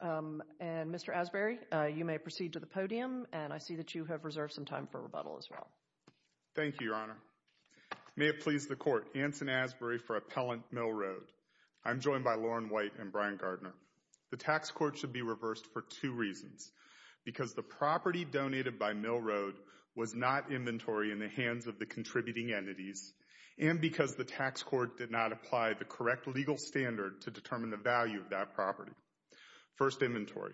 And Mr. Asbury, you may proceed to the podium, and I see that you have reserved some time for rebuttal as well. Thank you, Your Honor. May it please the Court, Anson Asbury for Appellant Mill Road. I am joined by Lauren White and Brian Gardner. The tax court should be reversed for two reasons. Because the property donated by Mill Road was not inventory in the hands of the contributing entities, and because the tax court did not apply the correct legal standard to determine the value of that property. First, inventory.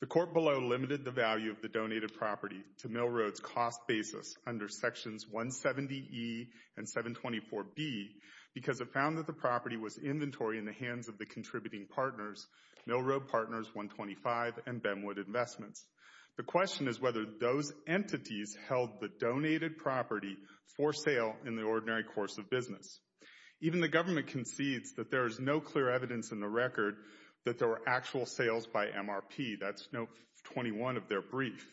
The court below limited the value of the donated property to Mill Road's cost basis under Sections 170E and 724B because it found that the property was inventory in the hands of the contributing partners, Mill Road Partners 125 and Benwood Investments. The question is whether those entities held the donated property for sale in the ordinary course of business. Even the government concedes that there is no clear evidence in the record that there were actual sales by MRP. That's note 21 of their brief.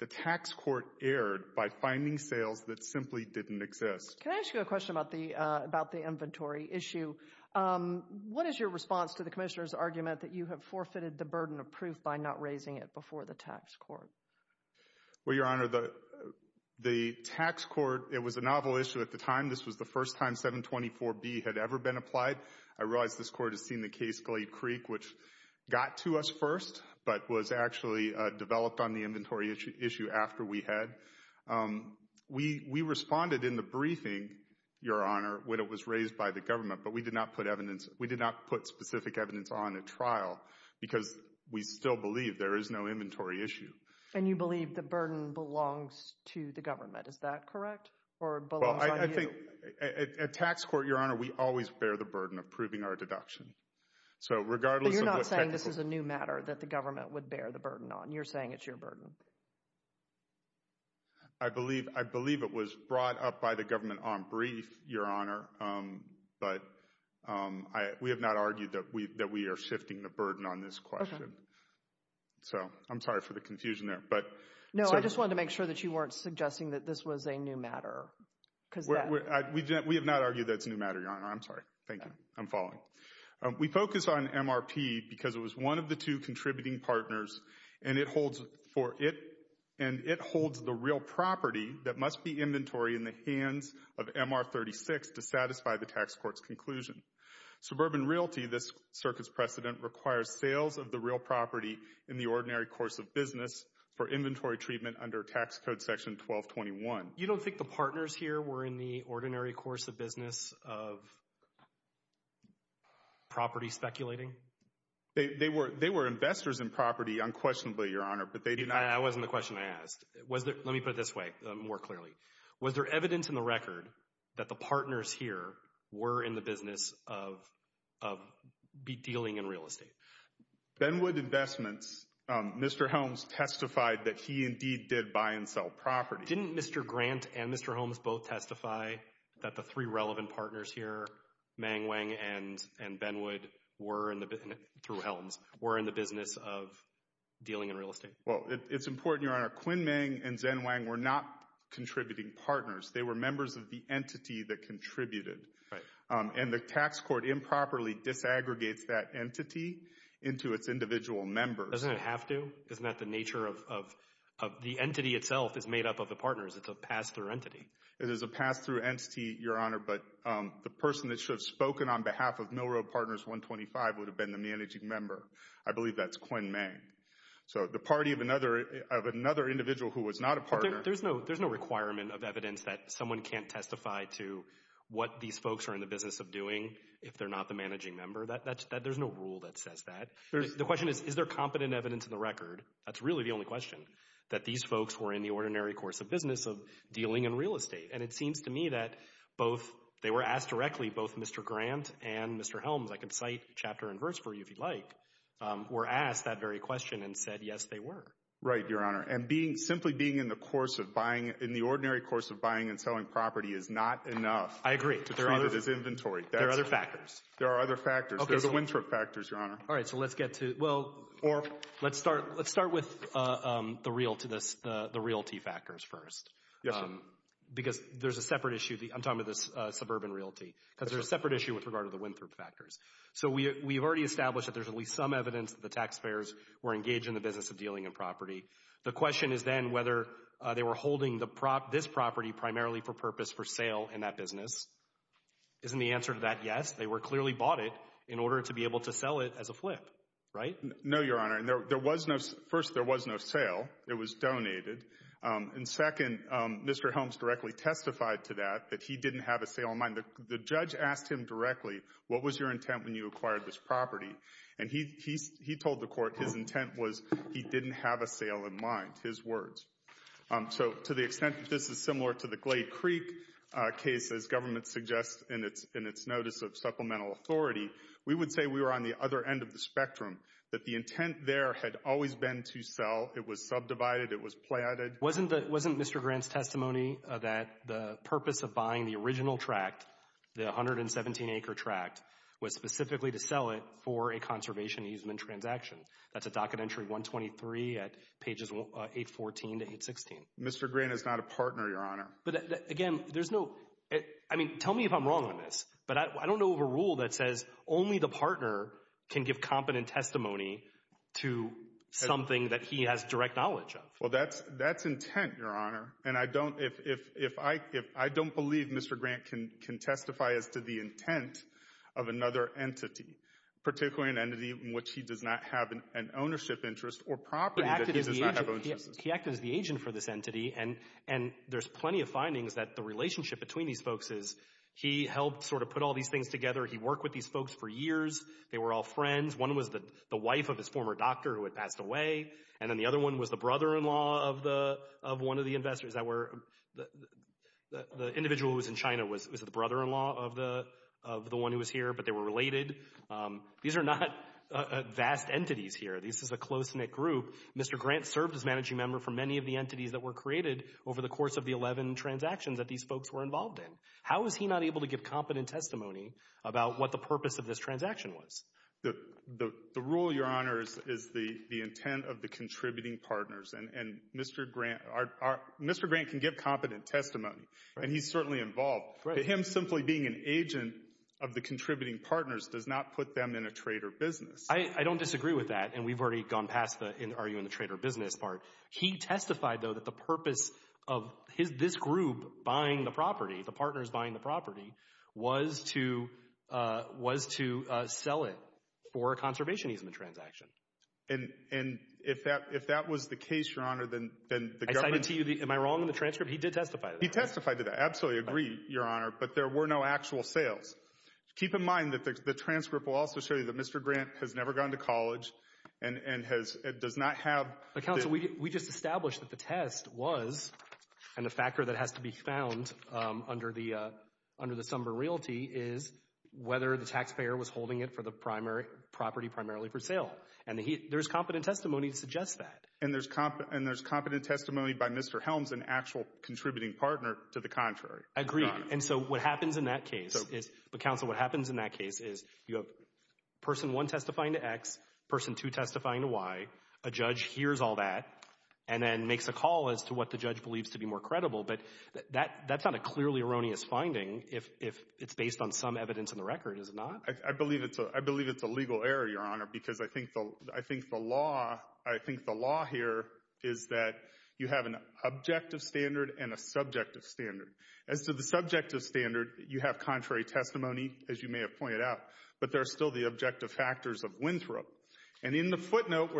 The tax court erred by finding sales that simply didn't exist. Can I ask you a question about the inventory issue? What is your response to the Commissioner's argument that you have forfeited the burden of proof by not raising it before the tax court? Well, Your Honor, the tax court, it was a novel issue at the time. This was the first time 724B had ever been applied. I realize this court has seen the case Glade Creek, which got to us first but was actually developed on the inventory issue after we had. We responded in the briefing, Your Honor, when it was raised by the government. But we did not put specific evidence on at trial because we still believe there is no inventory issue. And you believe the burden belongs to the government, is that correct? Well, I think at tax court, Your Honor, we always bear the burden of proving our deduction. But you're not saying this is a new matter that the government would bear the burden on. You're saying it's your burden. I believe it was brought up by the government on brief, Your Honor. But we have not argued that we are shifting the burden on this question. So I'm sorry for the confusion there. No, I just wanted to make sure that you weren't suggesting that this was a new matter. We have not argued that it's a new matter, Your Honor. I'm sorry. Thank you. I'm falling. We focus on MRP because it was one of the two contributing partners. And it holds the real property that must be inventory in the hands of MR36 to satisfy the tax court's conclusion. Suburban Realty, this circuit's precedent, requires sales of the real property in the ordinary course of business for inventory treatment under Tax Code Section 1221. You don't think the partners here were in the ordinary course of business of property speculating? They were investors in property, unquestionably, Your Honor. That wasn't the question I asked. Let me put it this way more clearly. Was there evidence in the record that the partners here were in the business of dealing in real estate? Benwood Investments, Mr. Helms testified that he indeed did buy and sell property. Didn't Mr. Grant and Mr. Holmes both testify that the three relevant partners here, Meng Wang and Benwood, through Helms, were in the business of dealing in real estate? Well, it's important, Your Honor, Quinn Meng and Zhen Wang were not contributing partners. They were members of the entity that contributed. And the tax court improperly disaggregates that entity into its individual members. Doesn't it have to? Isn't that the nature of—the entity itself is made up of the partners. It's a pass-through entity. It is a pass-through entity, Your Honor, but the person that should have spoken on behalf of Mill Road Partners 125 would have been the managing member. I believe that's Quinn Meng. So the party of another individual who was not a partner— There's no requirement of evidence that someone can't testify to what these folks are in the business of doing if they're not the managing member. There's no rule that says that. The question is, is there competent evidence in the record—that's really the only question— that these folks were in the ordinary course of business of dealing in real estate? And it seems to me that both—they were asked directly, both Mr. Grant and Mr. Holmes— I can cite chapter and verse for you if you'd like—were asked that very question and said, yes, they were. Right, Your Honor, and simply being in the ordinary course of buying and selling property is not enough. I agree. There are other factors. There are other factors. There are the Winthrop factors, Your Honor. All right, so let's get to—well, let's start with the realty factors first. Yes, sir. Because there's a separate issue—I'm talking about this suburban realty— because there's a separate issue with regard to the Winthrop factors. So we've already established that there's at least some evidence that the taxpayers were engaged in the business of dealing in property. The question is then whether they were holding this property primarily for purpose for sale in that business. Isn't the answer to that yes? They were clearly bought it in order to be able to sell it as a flip, right? No, Your Honor. There was no—first, there was no sale. It was donated. And second, Mr. Holmes directly testified to that, that he didn't have a sale in mind. The judge asked him directly, what was your intent when you acquired this property? And he told the Court his intent was he didn't have a sale in mind, his words. So to the extent that this is similar to the Glade Creek case, as government suggests in its notice of supplemental authority, we would say we were on the other end of the spectrum, that the intent there had always been to sell. It was subdivided. It was platted. Wasn't Mr. Grant's testimony that the purpose of buying the original tract, the 117-acre tract, was specifically to sell it for a conservation easement transaction? That's a docket entry 123 at pages 814 to 816. Mr. Grant is not a partner, Your Honor. But, again, there's no—I mean, tell me if I'm wrong on this. But I don't know of a rule that says only the partner can give competent testimony to something that he has direct knowledge of. Well, that's intent, Your Honor. And I don't believe Mr. Grant can testify as to the intent of another entity, particularly an entity in which he does not have an ownership interest or property that he does not have ownership. He acted as the agent for this entity. And there's plenty of findings that the relationship between these folks is he helped sort of put all these things together. He worked with these folks for years. They were all friends. One was the wife of his former doctor who had passed away. And then the other one was the brother-in-law of one of the investors that were—the individual who was in China was the brother-in-law of the one who was here, but they were related. These are not vast entities here. This is a close-knit group. Mr. Grant served as managing member for many of the entities that were created over the course of the 11 transactions that these folks were involved in. How is he not able to give competent testimony about what the purpose of this transaction was? The rule, Your Honors, is the intent of the contributing partners. And Mr. Grant can give competent testimony, and he's certainly involved. But him simply being an agent of the contributing partners does not put them in a trade or business. I don't disagree with that, and we've already gone past the are you in a trade or business part. He testified, though, that the purpose of this group buying the property, the partners buying the property, was to sell it for a conservation easement transaction. And if that was the case, Your Honor, then the government— I cited to you—am I wrong in the transcript? He did testify to that. He testified to that. I absolutely agree, Your Honor, but there were no actual sales. Keep in mind that the transcript will also show you that Mr. Grant has never gone to college and does not have— But, counsel, we just established that the test was—and the factor that has to be found under the sum of a realty is whether the taxpayer was holding it for the property primarily for sale. And there's competent testimony to suggest that. And there's competent testimony by Mr. Helms, an actual contributing partner, to the contrary. I agree. And so what happens in that case is—but, counsel, what happens in that case is you have person one testifying to X, person two testifying to Y. A judge hears all that and then makes a call as to what the judge believes to be more credible. But that's not a clearly erroneous finding if it's based on some evidence in the record, is it not? I believe it's a legal error, Your Honor, because I think the law here is that you have an objective standard and a subjective standard. As to the subjective standard, you have contrary testimony, as you may have pointed out, but there are still the objective factors of Winthrop. And in the footnote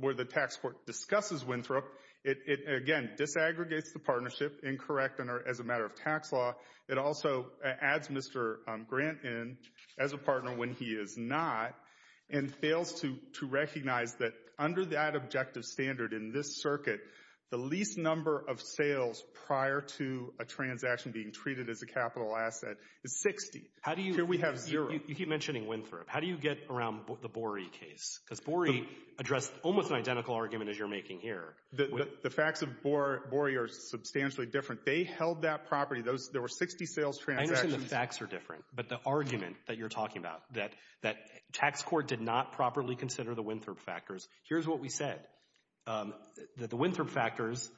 where the tax court discusses Winthrop, it, again, disaggregates the partnership, incorrect as a matter of tax law. It also adds Mr. Grant in as a partner when he is not and fails to recognize that under that objective standard in this circuit, the least number of sales prior to a transaction being treated as a capital asset is 60. How do you— I have zero. You keep mentioning Winthrop. How do you get around the Borey case? Because Borey addressed almost an identical argument as you're making here. The facts of Borey are substantially different. They held that property. There were 60 sales transactions. I understand the facts are different, but the argument that you're talking about, that tax court did not properly consider the Winthrop factors, here's what we said, that the Winthrop factors,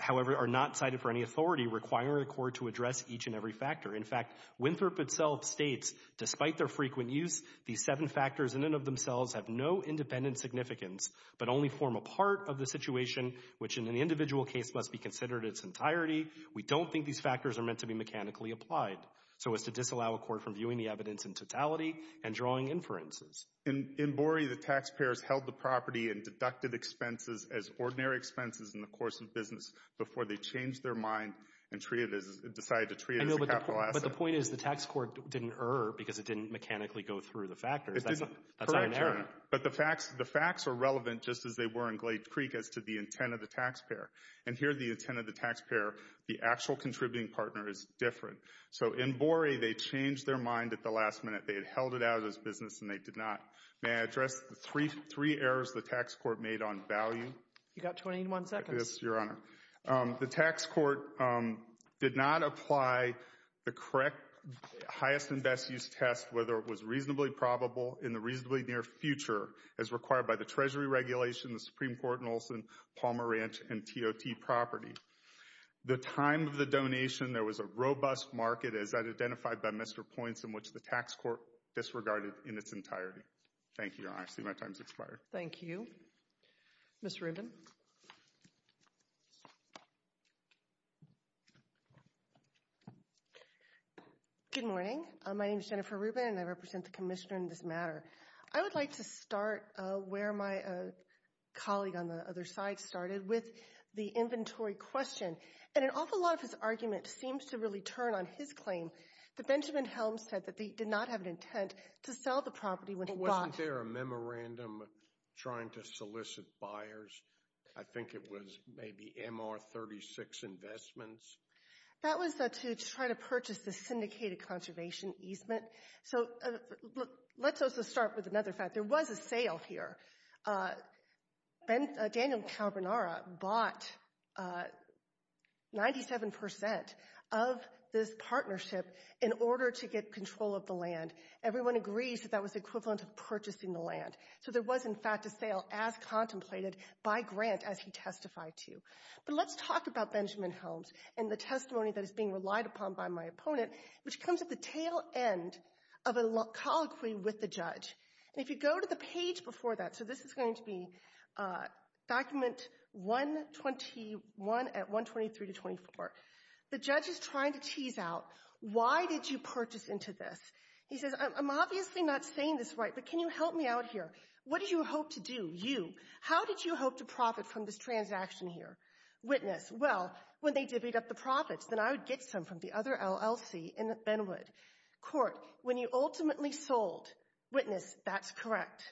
however, are not cited for any authority requiring the court to address each and every factor. In fact, Winthrop itself states, despite their frequent use, these seven factors in and of themselves have no independent significance but only form a part of the situation which in an individual case must be considered its entirety. We don't think these factors are meant to be mechanically applied so as to disallow a court from viewing the evidence in totality and drawing inferences. In Borey, the taxpayers held the property in deducted expenses as ordinary expenses in the course of business before they changed their mind and decided to treat it as a capital asset. But the point is the tax court didn't err because it didn't mechanically go through the factors. That's not an error. But the facts are relevant just as they were in Glade Creek as to the intent of the taxpayer. And here the intent of the taxpayer, the actual contributing partner, is different. So in Borey, they changed their mind at the last minute. They had held it out of this business and they did not. May I address the three errors the tax court made on value? You've got 21 seconds. Yes, Your Honor. The tax court did not apply the correct highest and best use test whether it was reasonably probable in the reasonably near future as required by the Treasury regulation, the Supreme Court in Olson, Palmer Ranch, and TOT property. The time of the donation, there was a robust market as identified by Mr. Points in which the tax court disregarded in its entirety. Thank you, Your Honor. I see my time has expired. Thank you. Ms. Rubin. Good morning. My name is Jennifer Rubin and I represent the commissioner in this matter. I would like to start where my colleague on the other side started with the inventory question. And an awful lot of his argument seems to really turn on his claim that Benjamin Helms said that he did not have an intent to sell the property when he bought it. Wasn't there a memorandum trying to solicit buyers? I think it was maybe MR-36 investments. That was to try to purchase the syndicated conservation easement. So let's also start with another fact. There was a sale here. Daniel Carbonara bought 97% of this partnership in order to get control of the land. Everyone agrees that that was equivalent to purchasing the land. So there was, in fact, a sale as contemplated by Grant as he testified to. But let's talk about Benjamin Helms and the testimony that is being relied upon by my opponent, which comes at the tail end of a colloquy with the judge. And if you go to the page before that, so this is going to be document 121 at 123 to 24, the judge is trying to tease out, why did you purchase into this? He says, I'm obviously not saying this right, but can you help me out here? What did you hope to do, you? How did you hope to profit from this transaction here? Witness, well, when they divvied up the profits, then I would get some from the other LLC in Benwood. Court, when you ultimately sold. Witness, that's correct.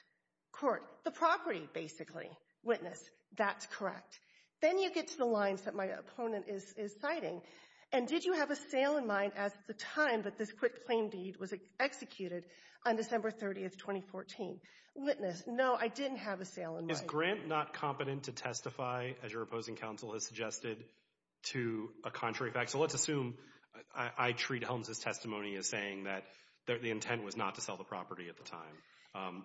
Court, the property, basically. Witness, that's correct. Then you get to the lines that my opponent is citing. And did you have a sale in mind at the time that this quick claim deed was executed on December 30, 2014? Witness, no, I didn't have a sale in mind. Is Grant not competent to testify, as your opposing counsel has suggested, to a contrary fact? So let's assume I treat Helms' testimony as saying that the intent was not to sell the property at the time.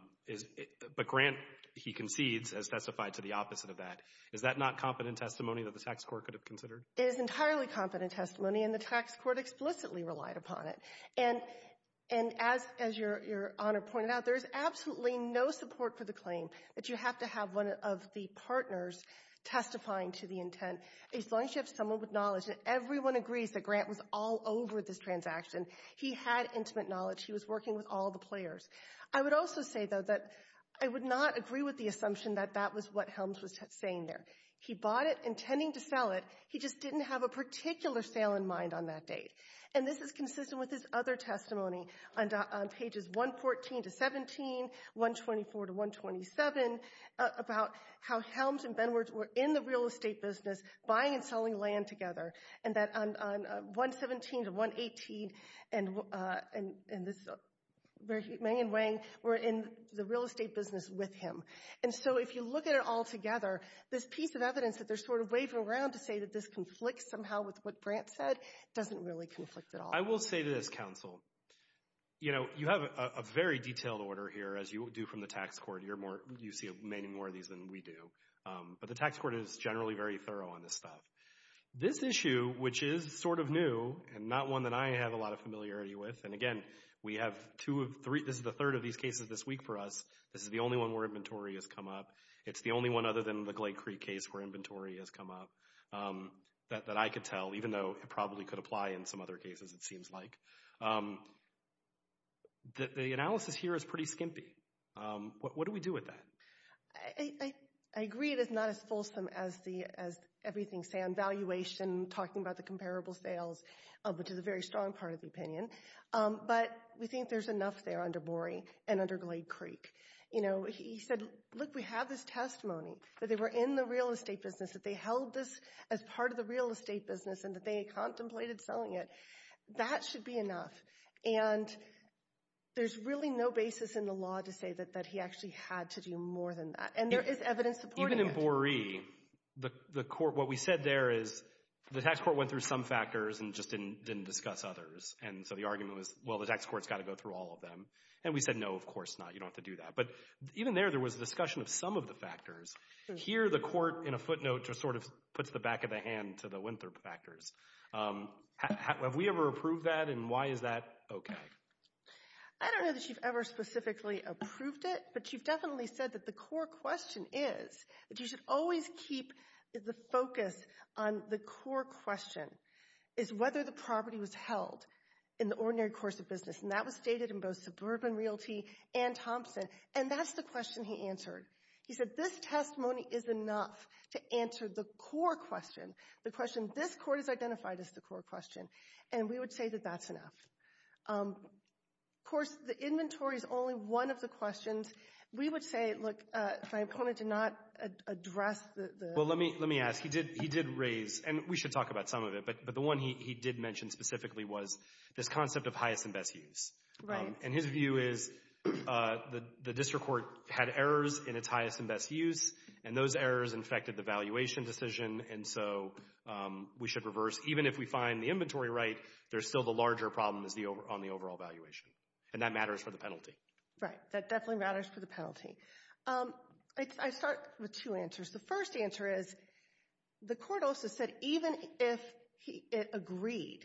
But Grant, he concedes, has testified to the opposite of that. Is that not competent testimony that the tax court could have considered? It is entirely competent testimony, and the tax court explicitly relied upon it. And as your Honor pointed out, there is absolutely no support for the claim that you have to have one of the partners testifying to the intent. As long as you have someone with knowledge, and everyone agrees that Grant was all over this transaction. He had intimate knowledge. He was working with all the players. I would also say, though, that I would not agree with the assumption that that was what Helms was saying there. He bought it intending to sell it. He just didn't have a particular sale in mind on that date. And this is consistent with his other testimony on pages 114 to 17, 124 to 127, about how Helms and Benwards were in the real estate business buying and selling land together. And that on 117 to 118, and this is where Meng and Wang were in the real estate business with him. And so if you look at it all together, this piece of evidence that they're sort of waving around to say that this conflicts somehow with what Grant said doesn't really conflict at all. I will say to this, Counsel, you know, you have a very detailed order here, as you do from the tax court. You see many more of these than we do. But the tax court is generally very thorough on this stuff. This issue, which is sort of new, and not one that I have a lot of familiarity with, and again, we have two of three, this is the third of these cases this week for us. This is the only one where inventory has come up. It's the only one other than the Glade Creek case where inventory has come up that I could tell, even though it probably could apply in some other cases, it seems like. The analysis here is pretty skimpy. What do we do with that? I agree it is not as fulsome as everything, say, on valuation, talking about the comparable sales, which is a very strong part of the opinion. But we think there's enough there under Boree and under Glade Creek. You know, he said, look, we have this testimony that they were in the real estate business, that they held this as part of the real estate business, and that they contemplated selling it. That should be enough. And there's really no basis in the law to say that he actually had to do more than that. And there is evidence supporting it. Even in Boree, what we said there is the tax court went through some factors and just didn't discuss others. And so the argument was, well, the tax court's got to go through all of them. And we said, no, of course not. You don't have to do that. But even there, there was a discussion of some of the factors. Here the court, in a footnote, just sort of puts the back of the hand to the Winthrop factors. Have we ever approved that, and why is that okay? I don't know that you've ever specifically approved it, but you've definitely said that the core question is that you should always keep the focus on the core question, is whether the property was held in the ordinary course of business. And that was stated in both Suburban Realty and Thompson. And that's the question he answered. He said, this testimony is enough to answer the core question, the question this court has identified as the core question. And we would say that that's enough. Of course, the inventory is only one of the questions. We would say, look, my opponent did not address the ---- Well, let me ask. He did raise, and we should talk about some of it, but the one he did mention specifically was this concept of highest and best use. And his view is the district court had errors in its highest and best use, and those errors infected the valuation decision, and so we should reverse. Even if we find the inventory right, there's still the larger problem on the overall valuation. And that matters for the penalty. Right, that definitely matters for the penalty. I start with two answers. The first answer is the court also said even if it agreed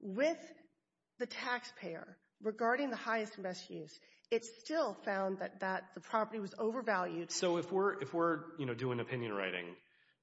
with the taxpayer regarding the highest and best use, it still found that the property was overvalued. So if we're doing opinion writing,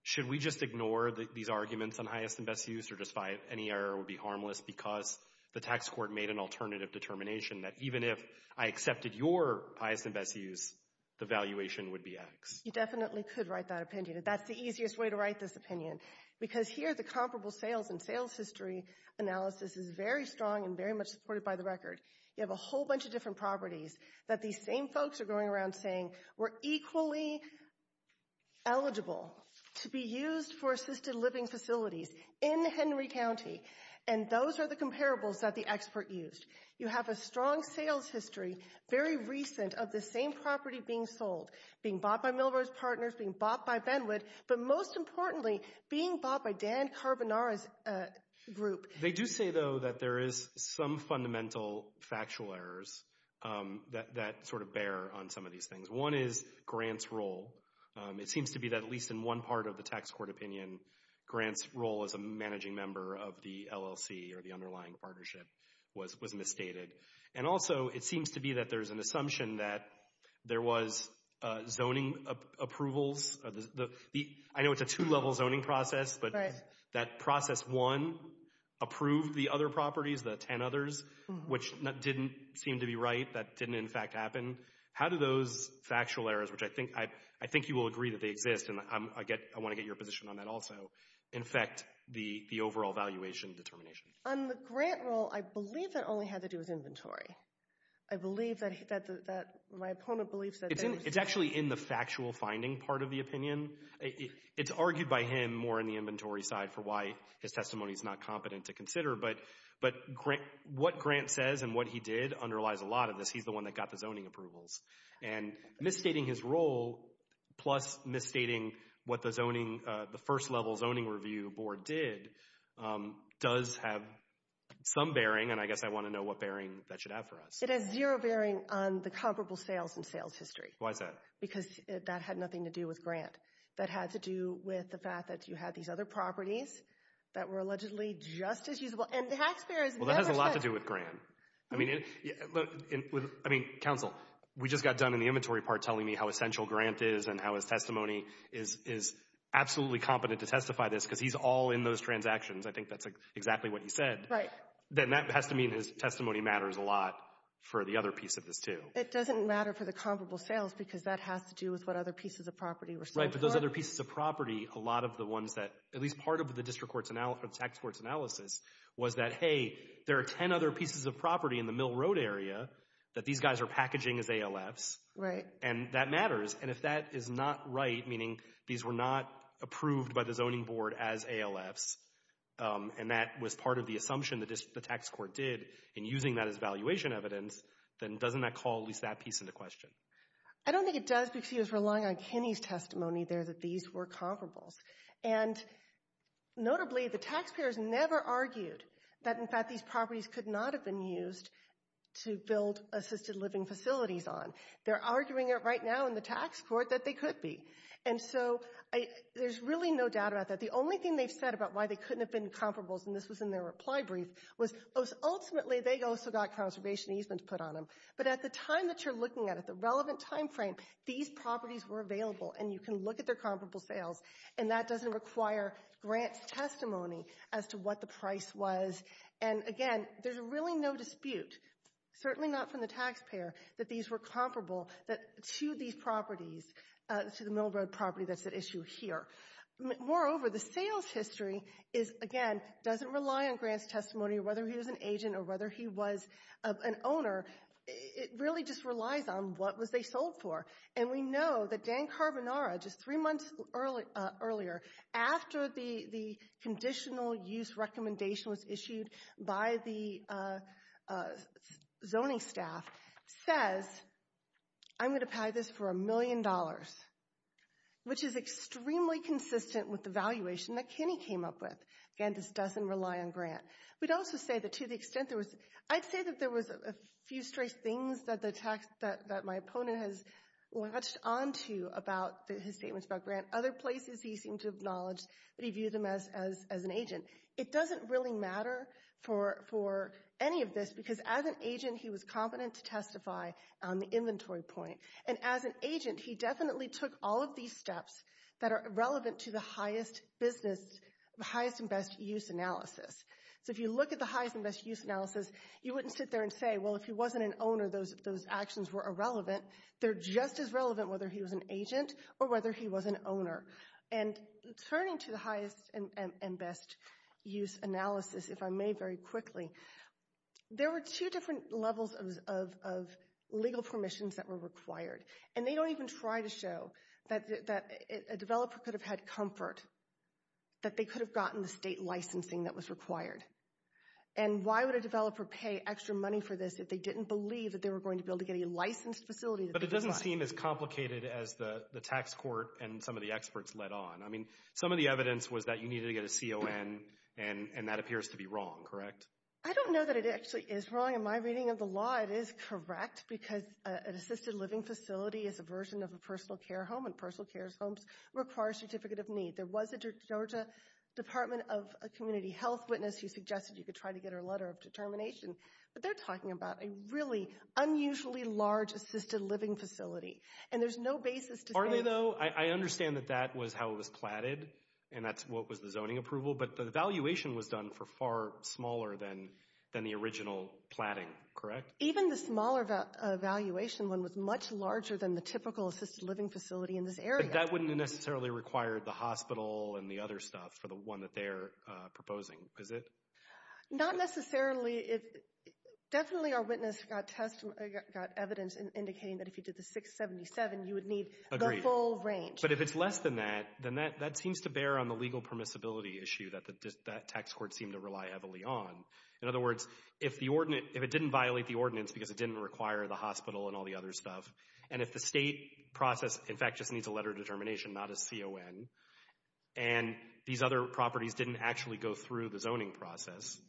should we just ignore these arguments on highest and best use or just find any error would be harmless because the tax court made an alternative determination that even if I accepted your highest and best use, the valuation would be X? You definitely could write that opinion. That's the easiest way to write this opinion because here the comparable sales and sales history analysis is very strong and very much supported by the record. You have a whole bunch of different properties that these same folks are going around saying were equally eligible to be used for assisted living facilities in Henry County, and those are the comparables that the expert used. You have a strong sales history, very recent, of the same property being sold, being bought by Millrose Partners, being bought by Benwood, but most importantly being bought by Dan Carbonara's group. They do say, though, that there is some fundamental factual errors that sort of bear on some of these things. One is Grant's role. It seems to be that at least in one part of the tax court opinion, Grant's role as a managing member of the LLC or the underlying partnership was misstated. And also it seems to be that there's an assumption that there was zoning approvals. I know it's a two-level zoning process, but that process one approved the other properties, the ten others, which didn't seem to be right. That didn't in fact happen. How do those factual errors, which I think you will agree that they exist, and I want to get your position on that also, infect the overall valuation determination? On the Grant role, I believe it only had to do with inventory. I believe that my opponent believes that there was— It's actually in the factual finding part of the opinion. It's argued by him more in the inventory side for why his testimony is not competent to consider. But what Grant says and what he did underlies a lot of this. He's the one that got the zoning approvals. And misstating his role plus misstating what the first-level zoning review board did does have some bearing. And I guess I want to know what bearing that should have for us. It has zero bearing on the comparable sales and sales history. Why is that? Because that had nothing to do with Grant. That had to do with the fact that you had these other properties that were allegedly just as usable. Well, that has a lot to do with Grant. I mean, counsel, we just got done in the inventory part telling me how essential Grant is and how his testimony is absolutely competent to testify to this because he's all in those transactions. I think that's exactly what he said. Then that has to mean his testimony matters a lot for the other piece of this, too. It doesn't matter for the comparable sales because that has to do with what other pieces of property were sold for. Right, but those other pieces of property, a lot of the ones that— at least part of the district court's analysis or the tax court's analysis was that, hey, there are 10 other pieces of property in the Mill Road area that these guys are packaging as ALFs. Right. And that matters. And if that is not right, meaning these were not approved by the zoning board as ALFs and that was part of the assumption the tax court did in using that as valuation evidence, then doesn't that call at least that piece into question? I don't think it does because he was relying on Kinney's testimony there that these were comparables. And notably, the taxpayers never argued that, in fact, these properties could not have been used to build assisted living facilities on. They're arguing it right now in the tax court that they could be. And so there's really no doubt about that. The only thing they've said about why they couldn't have been comparables, and this was in their reply brief, was ultimately they also got conservation easement put on them. But at the time that you're looking at it, the relevant time frame, these properties were available and you can look at their comparable sales, and that doesn't require Grant's testimony as to what the price was. And again, there's really no dispute, certainly not from the taxpayer, that these were comparable to these properties, to the Mill Road property that's at issue here. Moreover, the sales history is, again, doesn't rely on Grant's testimony, whether he was an agent or whether he was an owner. It really just relies on what was they sold for. And we know that Dan Carbonara, just three months earlier, after the conditional use recommendation was issued by the zoning staff, says, I'm going to pay this for a million dollars, which is extremely consistent with the valuation that Kenny came up with. Again, this doesn't rely on Grant. We'd also say that to the extent there was, I'd say that there was a few stray things that my opponent has latched onto about his statements about Grant. Other places, he seemed to acknowledge that he viewed him as an agent. It doesn't really matter for any of this, because as an agent, he was competent to testify on the inventory point. And as an agent, he definitely took all of these steps that are relevant to the highest business, the highest and best use analysis. So if you look at the highest and best use analysis, you wouldn't sit there and say, well, if he wasn't an owner, those actions were irrelevant. They're just as relevant whether he was an agent or whether he was an owner. And turning to the highest and best use analysis, if I may very quickly, there were two different levels of legal permissions that were required. And they don't even try to show that a developer could have had comfort that they could have gotten the state licensing that was required. And why would a developer pay extra money for this if they didn't believe that they were going to be able to get a licensed facility? But it doesn't seem as complicated as the tax court and some of the experts led on. I mean, some of the evidence was that you needed to get a CON, and that appears to be wrong, correct? I don't know that it actually is wrong. In my reading of the law, it is correct, because an assisted living facility is a version of a personal care home, and personal care homes require a certificate of need. There was a Georgia Department of Community Health witness who suggested you could try to get her letter of determination. But they're talking about a really unusually large assisted living facility, and there's no basis to say— Aren't they, though? I understand that that was how it was platted, and that's what was the zoning approval, but the valuation was done for far smaller than the original platting, correct? Even the smaller valuation one was much larger than the typical assisted living facility in this area. But that wouldn't necessarily require the hospital and the other stuff for the one that they're proposing, is it? Not necessarily. Definitely our witness got evidence indicating that if you did the 677, you would need the full range. But if it's less than that, then that seems to bear on the legal permissibility issue that that tax court seemed to rely heavily on. In other words, if it didn't violate the ordinance because it didn't require the hospital and all the other stuff, and if the state process, in fact, just needs a letter of determination, not a CON, and these other properties didn't actually go through the zoning process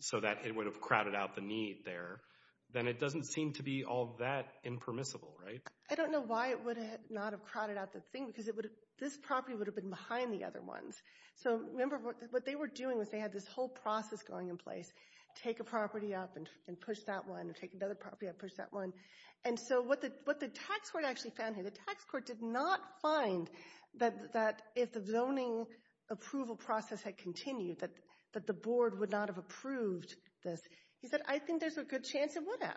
so that it would have crowded out the need there, then it doesn't seem to be all that impermissible, right? I don't know why it would not have crowded out the thing, because this property would have been behind the other ones. So remember, what they were doing was they had this whole process going in place, take a property up and push that one, take another property up, push that one. And so what the tax court actually found here, the tax court did not find that if the zoning approval process had continued, that the board would not have approved this. He said, I think there's a good chance it would have.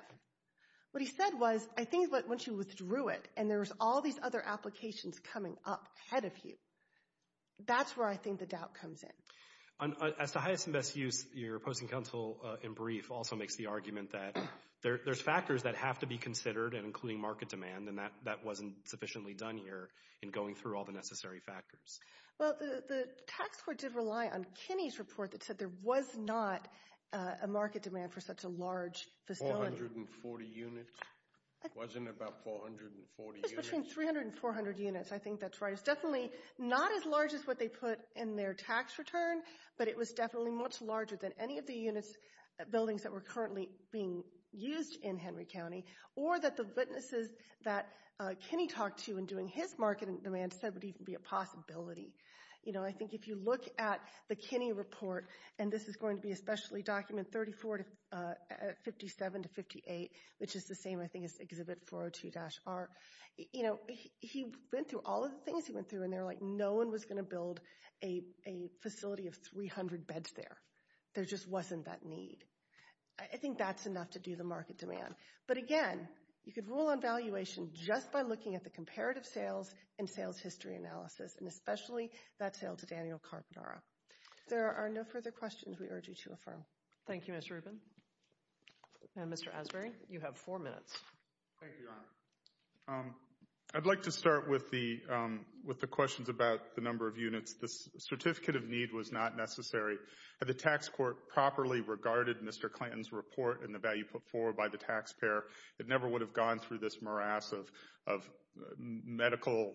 What he said was, I think once you withdrew it and there's all these other applications coming up ahead of you, that's where I think the doubt comes in. As to highest and best use, your posting counsel in brief also makes the argument that there's factors that have to be considered, including market demand, and that wasn't sufficiently done here in going through all the necessary factors. Well, the tax court did rely on Kenny's report that said there was not a market demand for such a large facility. 440 units? It wasn't about 440 units? It was between 300 and 400 units. I think that's right. It was definitely not as large as what they put in their tax return, but it was definitely much larger than any of the units, buildings that were currently being used in Henry County, or that the witnesses that Kenny talked to in doing his market demand said would even be a possibility. I think if you look at the Kenny report, and this is going to be especially document 34 to 57 to 58, which is the same, I think, as exhibit 402-R, he went through all of the things he went through, and they were like, no one was going to build a facility of 300 beds there. There just wasn't that need. I think that's enough to do the market demand. But again, you could rule on valuation just by looking at the comparative sales and sales history analysis, and especially that sale to Daniel Carbonara. If there are no further questions, we urge you to affirm. Thank you, Ms. Rubin. Mr. Asbury, you have four minutes. Thank you, Your Honor. I'd like to start with the questions about the number of units. The certificate of need was not necessary. Had the tax court properly regarded Mr. Clanton's report and the value put forward by the taxpayer, it never would have gone through this morass of medical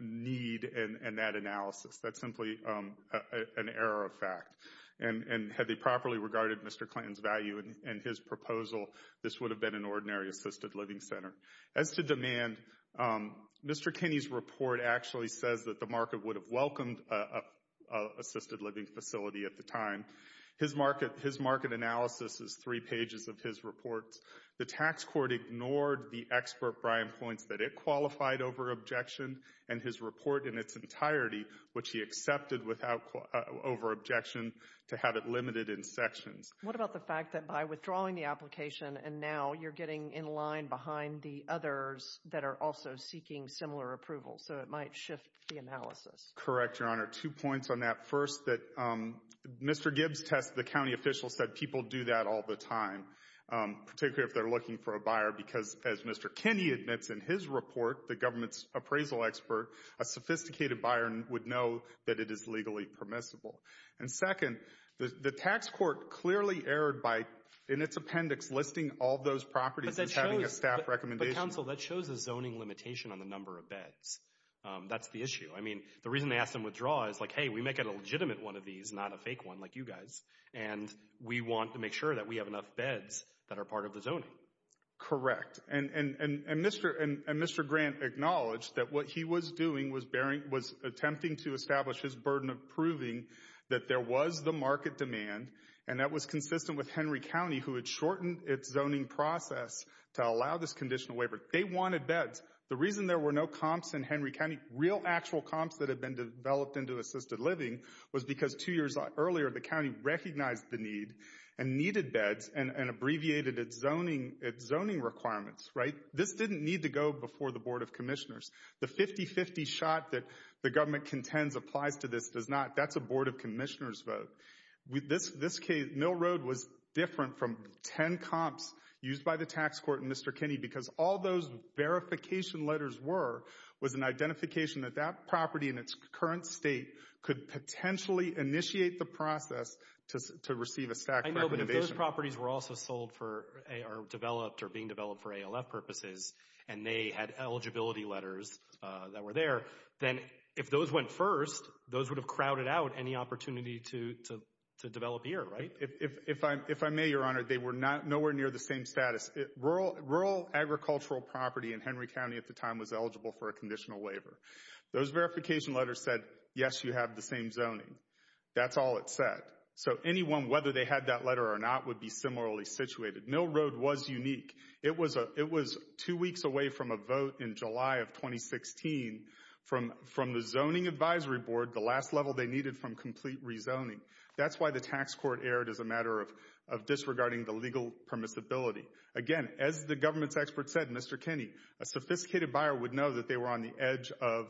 need and that analysis. That's simply an error of fact. And had they properly regarded Mr. Clanton's value and his proposal, this would have been an ordinary assisted living center. As to demand, Mr. Kinney's report actually says that the market would have welcomed an assisted living facility at the time. His market analysis is three pages of his reports. The tax court ignored the expert Brian points that it qualified over objection, and his report in its entirety, which he accepted over objection, to have it limited in sections. What about the fact that by withdrawing the application, and now you're getting in line behind the others that are also seeking similar approval, so it might shift the analysis? Correct, Your Honor. Two points on that. First, that Mr. Gibbs' test, the county official said people do that all the time, particularly if they're looking for a buyer, because, as Mr. Kinney admits in his report, the government's appraisal expert, a sophisticated buyer would know that it is legally permissible. And second, the tax court clearly erred by, in its appendix, listing all those properties as having a staff recommendation. But, counsel, that shows a zoning limitation on the number of beds. That's the issue. I mean, the reason they asked him to withdraw is like, hey, we make it a legitimate one of these, not a fake one like you guys, and we want to make sure that we have enough beds that are part of the zoning. Correct. And Mr. Grant acknowledged that what he was doing was attempting to establish his burden of proving that there was the market demand, and that was consistent with Henry County, who had shortened its zoning process to allow this conditional waiver. They wanted beds. The reason there were no comps in Henry County, real actual comps that had been developed into assisted living, was because two years earlier the county recognized the need and needed beds and abbreviated its zoning requirements. This didn't need to go before the Board of Commissioners. The 50-50 shot that the government contends applies to this does not. That's a Board of Commissioners vote. In this case, Mill Road was different from 10 comps used by the tax court and Mr. Kinney because all those verification letters were was an identification that that property in its current state could potentially initiate the process to receive a staff recommendation. So if those properties were also sold or developed or being developed for ALF purposes and they had eligibility letters that were there, then if those went first, those would have crowded out any opportunity to develop here, right? If I may, Your Honor, they were nowhere near the same status. Rural agricultural property in Henry County at the time was eligible for a conditional waiver. Those verification letters said, yes, you have the same zoning. That's all it said. So anyone, whether they had that letter or not, would be similarly situated. Mill Road was unique. It was two weeks away from a vote in July of 2016 from the Zoning Advisory Board, the last level they needed from complete rezoning. That's why the tax court erred as a matter of disregarding the legal permissibility. Again, as the government's expert said, Mr. Kinney, a sophisticated buyer would know that they were on the edge of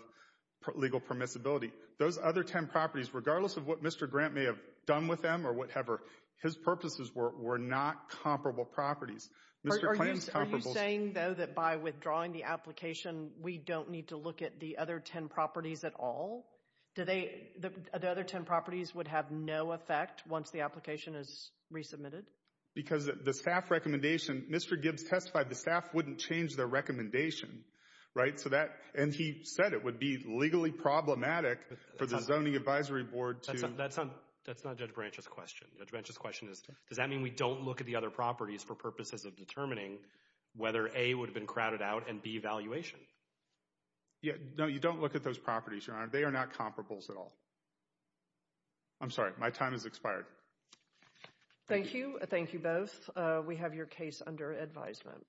legal permissibility. Those other ten properties, regardless of what Mr. Grant may have done with them or whatever, his purposes were not comparable properties. Are you saying, though, that by withdrawing the application, we don't need to look at the other ten properties at all? The other ten properties would have no effect once the application is resubmitted? Because the staff recommendation, Mr. Gibbs testified the staff wouldn't change their recommendation, right? And he said it would be legally problematic for the Zoning Advisory Board to That's not Judge Branch's question. Judge Branch's question is, does that mean we don't look at the other properties for purposes of determining whether A, would have been crowded out, and B, valuation? No, you don't look at those properties, Your Honor. They are not comparables at all. I'm sorry. My time has expired. Thank you. Thank you both. We have your case under advisement.